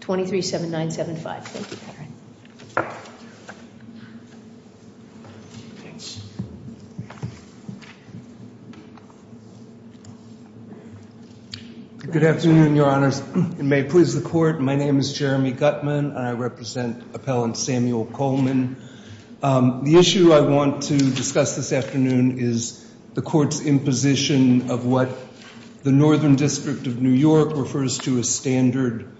23-7-9-7-5. Thank you, Patrick. Good afternoon, Your Honors, and may it please the Court. My name is Jeremy Gutman. I represent Appellant Samuel Coleman. The issue I want to discuss this afternoon is the Court's imposition of what the Northern District of New York refers to as Standard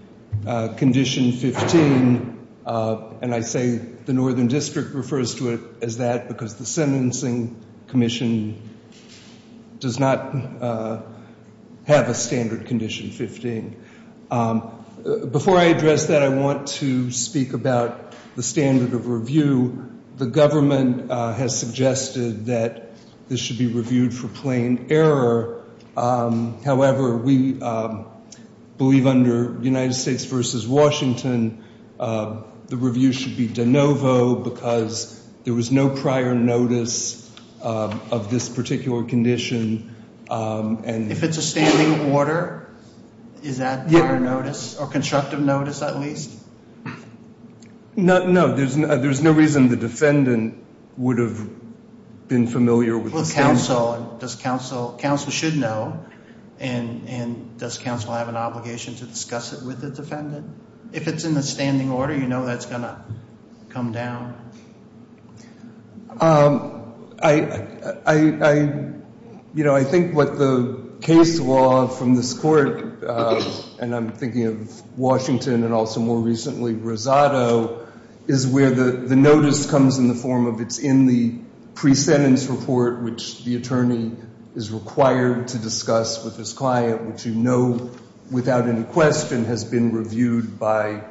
Condition 15, and I say the Northern District refers to it as that because the Sentencing Commission does not have a Standard Condition 15. Before I address that, I want to speak about the standard of review. The government has suggested that this should be reviewed for plain error. However, we believe under United States v. Washington, the review should be de novo because there was no prior notice of this particular condition. If it's a standing order, is that prior notice or constructive notice, at least? No, there's no reason the defendant would have been familiar with the standard. Well, counsel should know, and does counsel have an obligation to discuss it with the defendant? If it's in the standing order, you know that's going to come down. I think what the case law from this Court, and I'm thinking of Washington and also more recently Rosado, is where the notice comes in the form of it's in the pre-sentence report, which the attorney is required to discuss with his client, which you know without any question has been reviewed by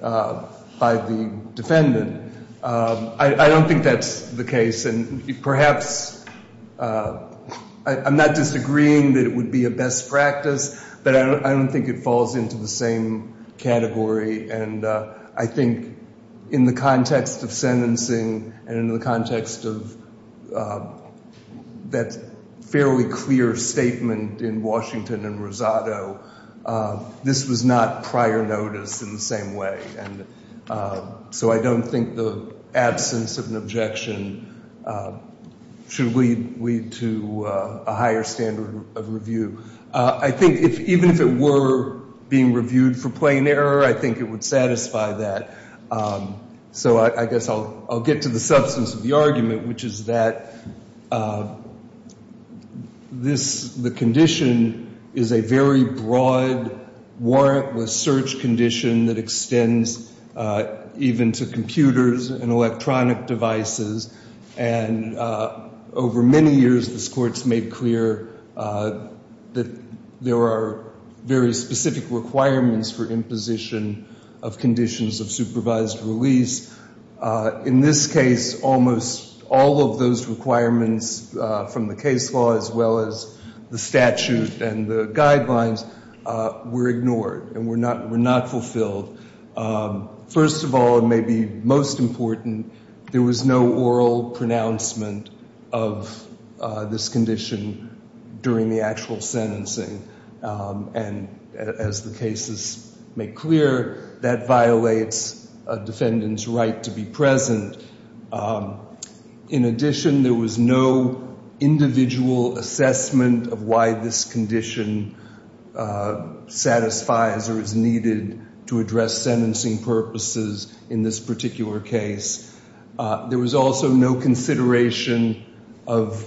the defendant. I don't think that's the case, and perhaps I'm not disagreeing that it would be a best practice, but I don't think it falls into the same category, and I think in the context of sentencing and in the context of that fairly clear statement in Washington and Rosado, this was not prior notice in the same way. So I don't think the absence of an objection should lead to a higher standard of review. I think even if it were being reviewed for plain error, I think it would satisfy that. So I guess I'll get to the substance of the argument, which is that this, the condition is a very broad warrantless search condition that extends even to computers and electronic devices. And over many years, this Court's made clear that there are very specific requirements for imposition of conditions of supervised release. In this case, almost all of those requirements from the case law as well as the statute and the guidelines were ignored and were not fulfilled. First of all, and maybe most important, there was no oral pronouncement of this condition during the actual sentencing. And as the cases make clear, that violates a defendant's right to be present. In addition, there was no individual assessment of why this condition satisfies or is needed to address sentencing purposes in this particular case. There was also no consideration of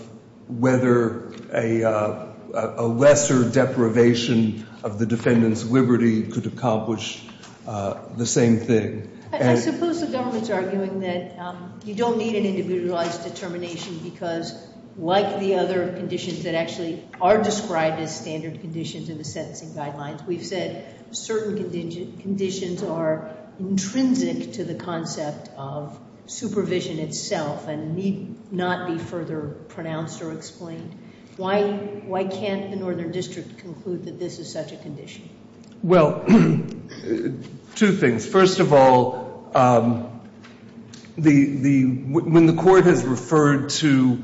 whether a lesser deprivation of the defendant's liberty could accomplish the same thing. I suppose the government's arguing that you don't need an individualized determination because, like the other conditions that actually are described as standard conditions in the sentencing guidelines, we've said certain conditions are intrinsic to the concept of supervision itself and need not be further pronounced or explained. Why can't the Northern District conclude that this is such a condition? Well, two things. First of all, when the court has referred to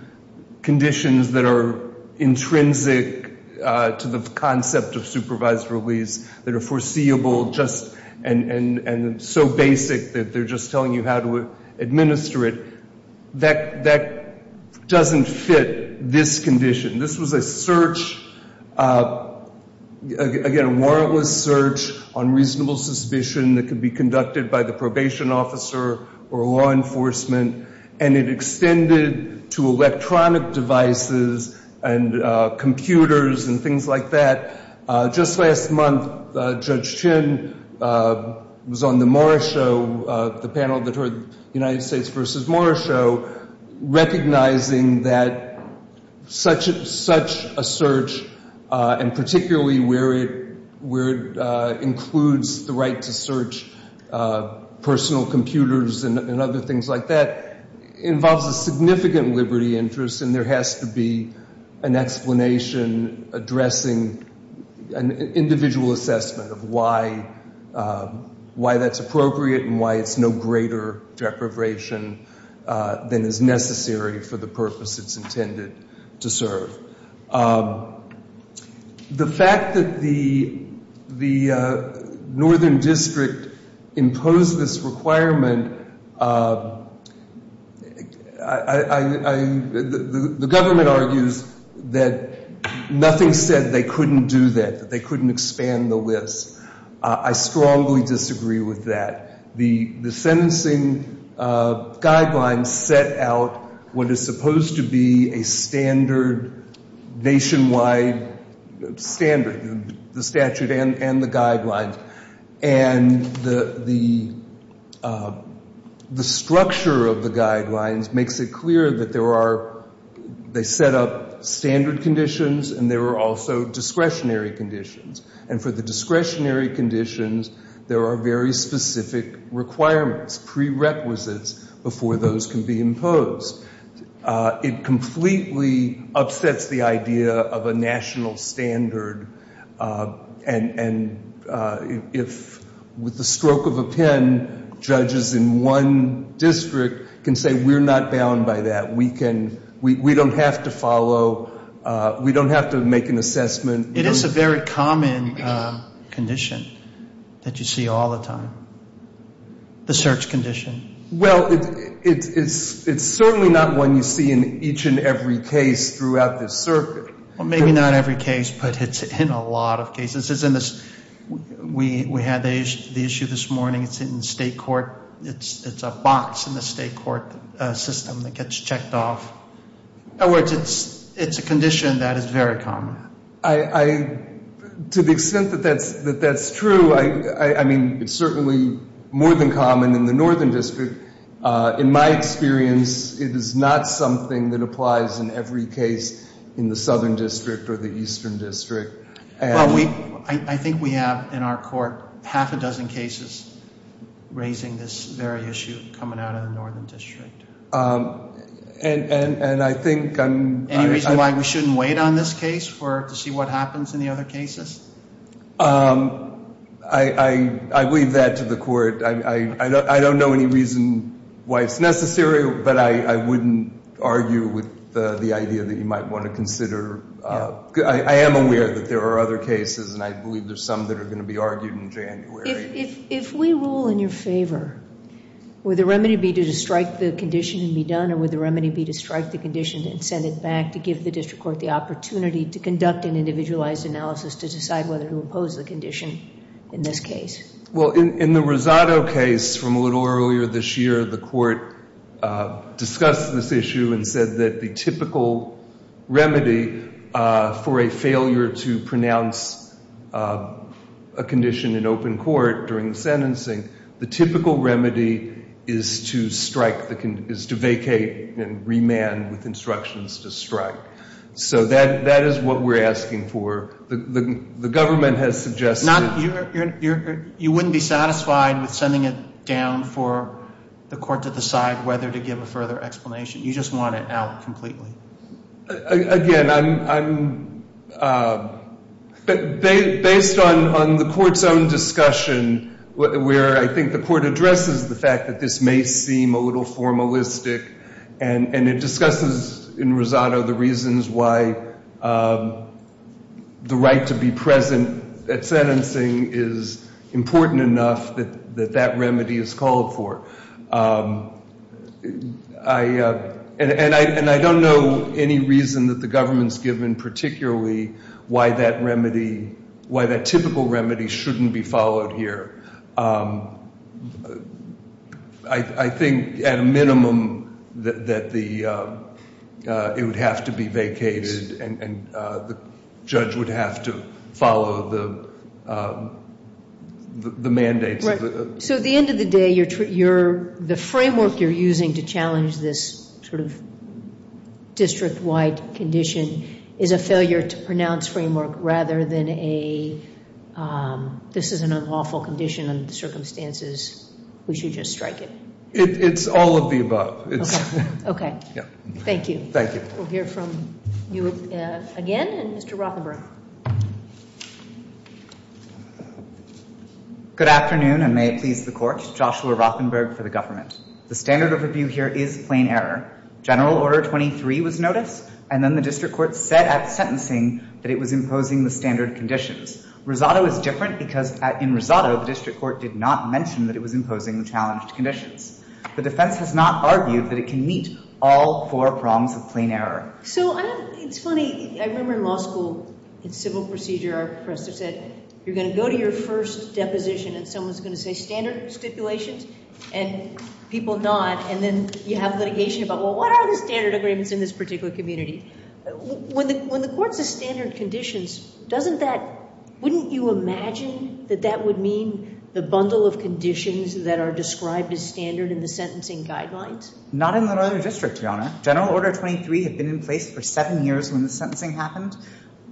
conditions that are intrinsic to the concept of supervised release, that are foreseeable and so basic that they're just telling you how to administer it, that doesn't fit this condition. This was a search, again, a warrantless search on reasonable suspicion that could be conducted by the probation officer or law enforcement, and it extended to electronic devices and computers and things like that. Just last month, Judge Chin was on the panel that heard the United States v. Morris show, recognizing that such a search, and particularly where it includes the right to search personal computers and other things like that, involves a significant liberty interest and there has to be an explanation addressing an individual assessment of why that's appropriate and why it's no greater deprivation than is necessary for the purpose it's intended to serve. The fact that the Northern District imposed this requirement, the government argues that nothing said they couldn't do that, that they couldn't expand the list. I strongly disagree with that. The sentencing guidelines set out what is supposed to be a standard nationwide standard, the statute and the guidelines, and the structure of the guidelines makes it clear that there are, they set up standard conditions and there are also discretionary conditions, and for the discretionary conditions, there are very specific requirements, prerequisites, before those can be imposed. It completely upsets the idea of a national standard, and if, with the stroke of a pen, judges in one district can say, we're not bound by that, we don't have to follow, we don't have to make an assessment. It is a very common condition that you see all the time, the search condition. Well, it's certainly not one you see in each and every case throughout this circuit. Well, maybe not every case, but it's in a lot of cases. We had the issue this morning, it's in state court, it's a box in the state court system that gets checked off. In other words, it's a condition that is very common. To the extent that that's true, I mean, it's certainly more than common in the northern district. In my experience, it is not something that applies in every case in the southern district or the eastern district. Well, I think we have in our court half a dozen cases raising this very issue coming out of the northern district. And I think I'm... Any reason why we shouldn't wait on this case to see what happens in the other cases? I leave that to the court. I don't know any reason why it's necessary, but I wouldn't argue with the idea that you might want to consider. I am aware that there are other cases, and I believe there's some that are going to be argued in January. If we rule in your favor, would the remedy be to strike the condition and be done, or would the remedy be to strike the condition and send it back to give the district court the opportunity to conduct an individualized analysis to decide whether to impose the condition in this case? Well, in the Rosado case from a little earlier this year, the court discussed this issue and said that the typical remedy for a failure to pronounce a condition in open court during the sentencing, the typical remedy is to vacate and remand with instructions to strike. So that is what we're asking for. The government has suggested... You wouldn't be satisfied with sending it down for the court to decide whether to give a further explanation. You just want it out completely. Again, I'm... Based on the court's own discussion, where I think the court addresses the fact that this may seem a little formalistic, and it discusses in Rosado the reasons why the right to be present at sentencing is important enough that that remedy is called for. And I don't know any reason that the government's given particularly why that remedy, why that typical remedy shouldn't be followed here. I think at a minimum that it would have to be vacated and the judge would have to follow the mandates. Right. So at the end of the day, the framework you're using to challenge this sort of district-wide condition is a failure to pronounce framework rather than a... This is an unlawful condition under the circumstances. We should just strike it. It's all of the above. Okay. Thank you. Thank you. We'll hear from you again, and Mr. Rothenberg. Good afternoon, and may it please the court. Joshua Rothenberg for the government. The standard overview here is plain error. General Order 23 was noticed, and then the district court said at sentencing that it was imposing the standard conditions. Rosado is different because in Rosado the district court did not mention that it was imposing the challenged conditions. The defense has not argued that it can meet all four prongs of plain error. So it's funny. I remember in law school in civil procedure our professor said, you're going to go to your first deposition and someone's going to say standard stipulations, and people nod, and then you have litigation about, well, what are the standard agreements in this particular community? When the court says standard conditions, doesn't that... Wouldn't you imagine that that would mean the bundle of conditions that are described as standard in the sentencing guidelines? Not in the Northern District, Your Honor. General Order 23 had been in place for seven years when the sentencing happened.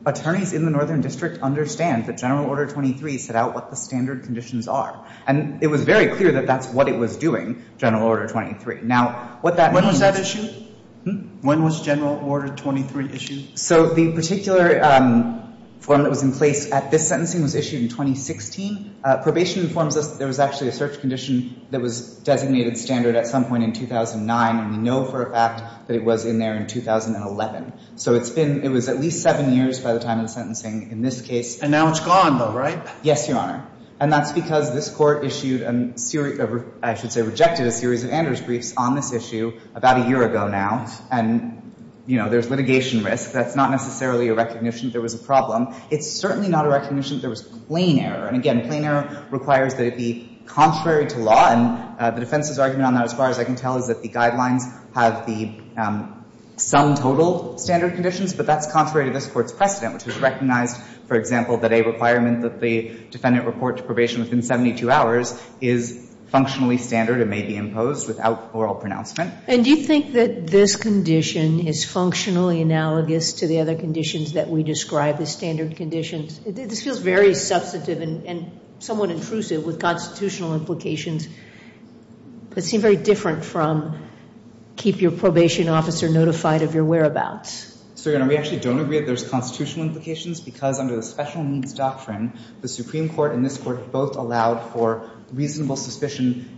Attorneys in the Northern District understand that General Order 23 set out what the standard conditions are, and it was very clear that that's what it was doing, General Order 23. Now, what that means is... When was that issued? When was General Order 23 issued? So the particular form that was in place at this sentencing was issued in 2016. Probation informs us that there was actually a search condition that was designated standard at some point in 2009, and we know for a fact that it was in there in 2011. So it's been at least seven years by the time of the sentencing in this case. And now it's gone, though, right? Yes, Your Honor. And that's because this Court issued a series of... I should say rejected a series of Anders briefs on this issue about a year ago now. And, you know, there's litigation risk. That's not necessarily a recognition that there was a problem. It's certainly not a recognition that there was plain error. And, again, plain error requires that it be contrary to law, and the defense's argument on that, as far as I can tell, is that the guidelines have the sum total standard conditions, but that's contrary to this Court's precedent, which has recognized, for example, that a requirement that the defendant report to probation within 72 hours is functionally standard and may be imposed without oral pronouncement. And do you think that this condition is functionally analogous to the other conditions that we describe as standard conditions? This feels very substantive and somewhat intrusive with constitutional implications, but it seems very different from keep your probation officer notified of your whereabouts. So, Your Honor, we actually don't agree that there's constitutional implications because under the special needs doctrine, the Supreme Court and this Court have both allowed for reasonable suspicion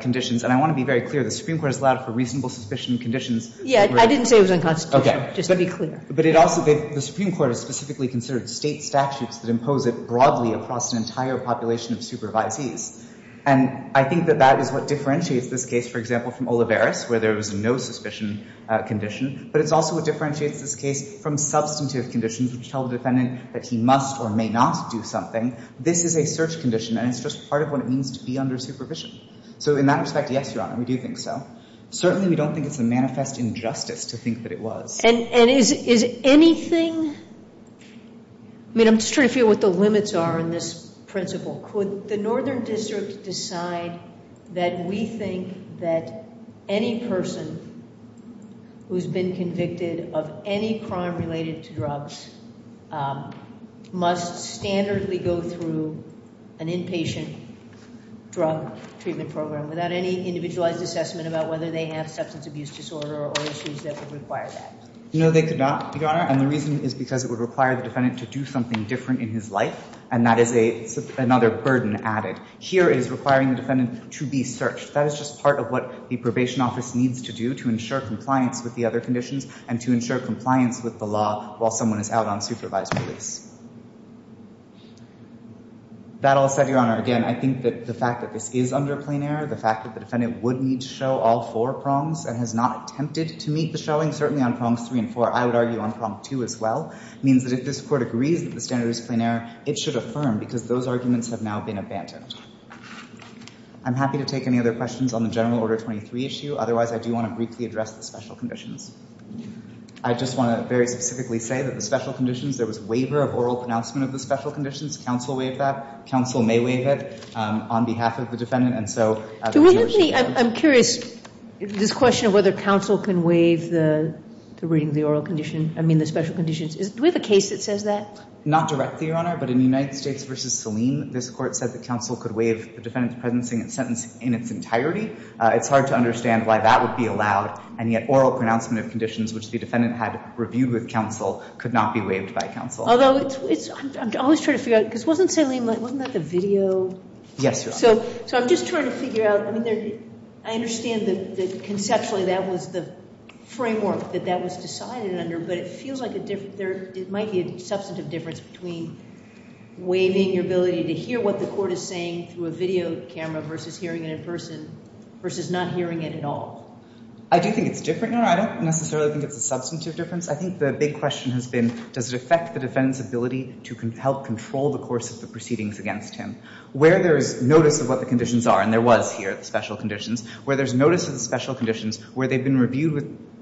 conditions. And I want to be very clear. The Supreme Court has allowed for reasonable suspicion conditions. Yeah. I didn't say it was unconstitutional. Okay. Just to be clear. But it also, the Supreme Court has specifically considered State statutes that impose it broadly across an entire population of supervisees. And I think that that is what differentiates this case, for example, from Olivares, where there was no suspicion condition. But it's also what differentiates this case from substantive conditions, which tell the defendant that he must or may not do something. This is a search condition, and it's just part of what it means to be under supervision. So, in that respect, yes, Your Honor, we do think so. Certainly, we don't think it's a manifest injustice to think that it was. And is anything – I mean, I'm just trying to figure out what the limits are in this principle. Could the Northern District decide that we think that any person who's been convicted of any crime related to drugs must standardly go through an inpatient drug treatment program without any individualized assessment about whether they have substance abuse disorder or issues that would require that? No, they could not, Your Honor. And the reason is because it would require the defendant to do something different in his life. And that is another burden added. Here it is requiring the defendant to be searched. That is just part of what the probation office needs to do to ensure compliance with the other conditions and to ensure compliance with the law while someone is out on supervised release. That all said, Your Honor, again, I think that the fact that this is under plain error, the fact that the defendant would need to show all four prongs and has not attempted to meet the showing, certainly on prongs three and four, I would argue on prong two as well, means that if this Court agrees that the standard is plain error, it should affirm because those arguments have now been abandoned. I'm happy to take any other questions on the General Order 23 issue. Otherwise, I do want to briefly address the special conditions. I just want to very specifically say that the special conditions, there was waiver of oral pronouncement of the special conditions. Counsel waived that. Counsel may waive it on behalf of the defendant. And so as a matter of fact, I'm curious, this question of whether counsel can waive the reading of the oral condition, I mean the special conditions, do we have a case that says that? Not directly, Your Honor. But in United States v. Salim, this Court said that counsel could waive the defendant's presencing and sentence in its entirety. It's hard to understand why that would be allowed. And yet oral pronouncement of conditions, which the defendant had reviewed with counsel, could not be waived by counsel. Although I'm always trying to figure out, because wasn't Salim, wasn't that the video? Yes, Your Honor. So I'm just trying to figure out, I mean, I understand that conceptually that was the framework that that was decided under, but it feels like a different, there might be a substantive difference between waiving your ability to hear what the court is saying through a video camera versus hearing it in person versus not hearing it at all. I do think it's different, Your Honor. I don't necessarily think it's a substantive difference. I think the big question has been, does it affect the defendant's ability to help control the course of the proceedings against him? Where there is notice of what the conditions are, and there was here the special conditions, where there's notice of the special conditions, where they've been reviewed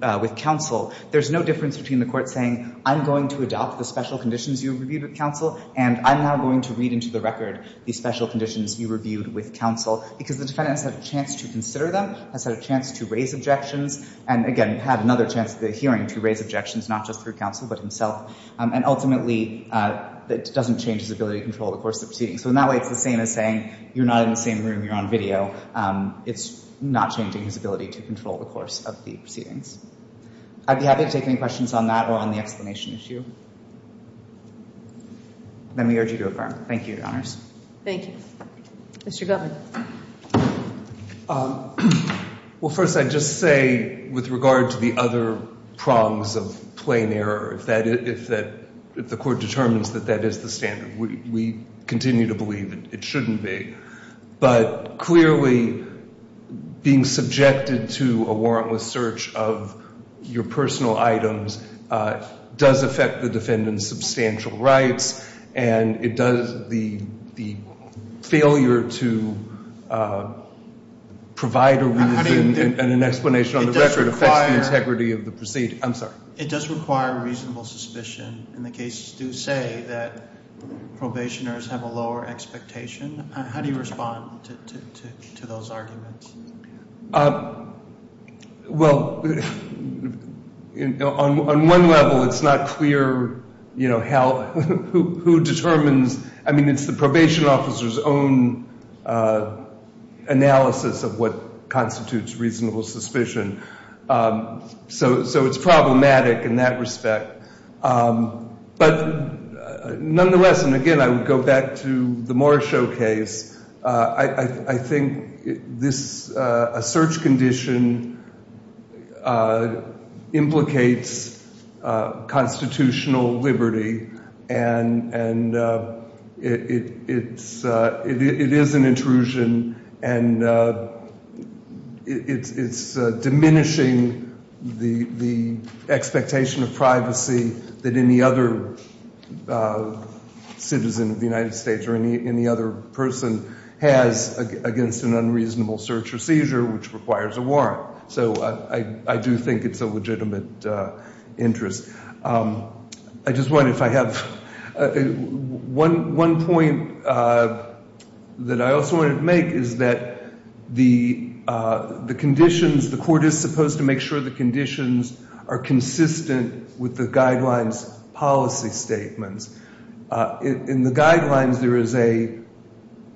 with counsel, there's no difference between the court saying, I'm going to adopt the special conditions you reviewed with counsel, and I'm now going to read into the record the special conditions you reviewed with counsel. Because the defendant has had a chance to consider them, has had a chance to raise objections, and again, had another chance at the hearing to raise objections, not just through counsel, but himself. And ultimately, that doesn't change his ability to control the course of the So in that way, it's the same as saying, you're not in the same room, you're on video. It's not changing his ability to control the course of the proceedings. I'd be happy to take any questions on that or on the explanation issue. Then we urge you to affirm. Thank you, Your Honors. Thank you. Mr. Gutmann. Well, first, I'd just say, with regard to the other prongs of plain error, if the court determines that that is the standard, we continue to believe it shouldn't be. But clearly, being subjected to a warrantless search of your personal items does affect the defendant's substantial rights, and the failure to provide a reason and an explanation on the record affects the integrity of the proceeding. I'm sorry. It does require reasonable suspicion. And the cases do say that probationers have a lower expectation. How do you respond to those arguments? Well, on one level, it's not clear who determines. I mean, it's the probation officer's own analysis of what constitutes reasonable suspicion. So it's problematic in that respect. But nonetheless, and again, I would go back to the Moore showcase, I think a search condition implicates constitutional liberty, and it is an intrusion, and it's diminishing the expectation of privacy that any other citizen of the United States or any other person has against an unreasonable search or seizure, which requires a warrant. So I do think it's a legitimate interest. I just wonder if I have one point that I also wanted to make is that the conditions, the court is supposed to make sure the conditions are consistent with the guidelines policy statements. In the guidelines, there is a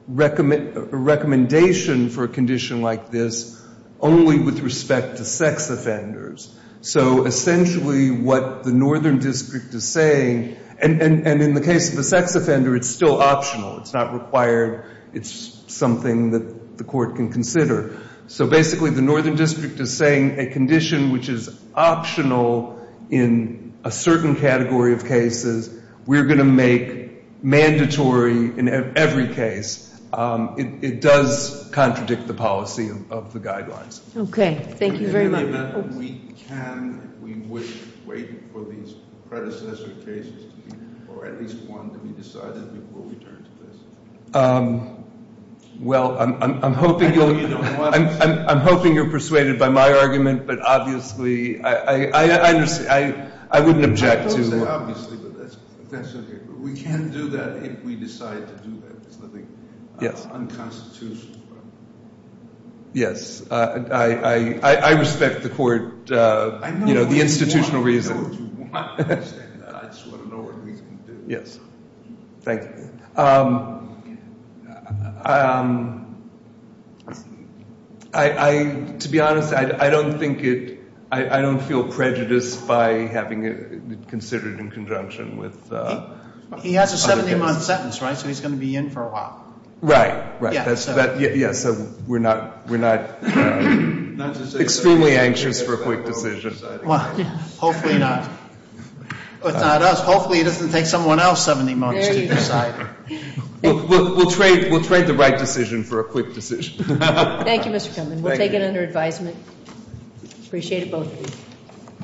recommendation for a condition like this only with respect to sex offenders. So essentially what the Northern District is saying, and in the case of a sex offender, it's still optional. It's not required. It's something that the court can consider. So basically the Northern District is saying a condition which is optional in a certain category of cases, we're going to make mandatory in every case. It does contradict the policy of the guidelines. Okay. Thank you very much. In any event, can we wait for these predecessor cases or at least one to be decided before we turn to this? Well, I'm hoping you're persuaded by my argument, but obviously I understand. I wouldn't object to it. I don't say obviously, but that's okay. We can do that if we decide to do that. It's nothing unconstitutional. Yes. I respect the court, you know, the institutional reason. I just want to know what we can do. Yes. Thank you. To be honest, I don't think it ‑‑ I don't feel prejudiced by having it considered in conjunction with other cases. He has a 17-month sentence, right? So he's going to be in for a while. Right. Yeah. So we're not extremely anxious for a quick decision. Hopefully not. If not us, hopefully it doesn't take someone else 17 months to decide. We'll trade the right decision for a quick decision. Thank you, Mr. Komen. We'll take it under advisement. Appreciate it both of you.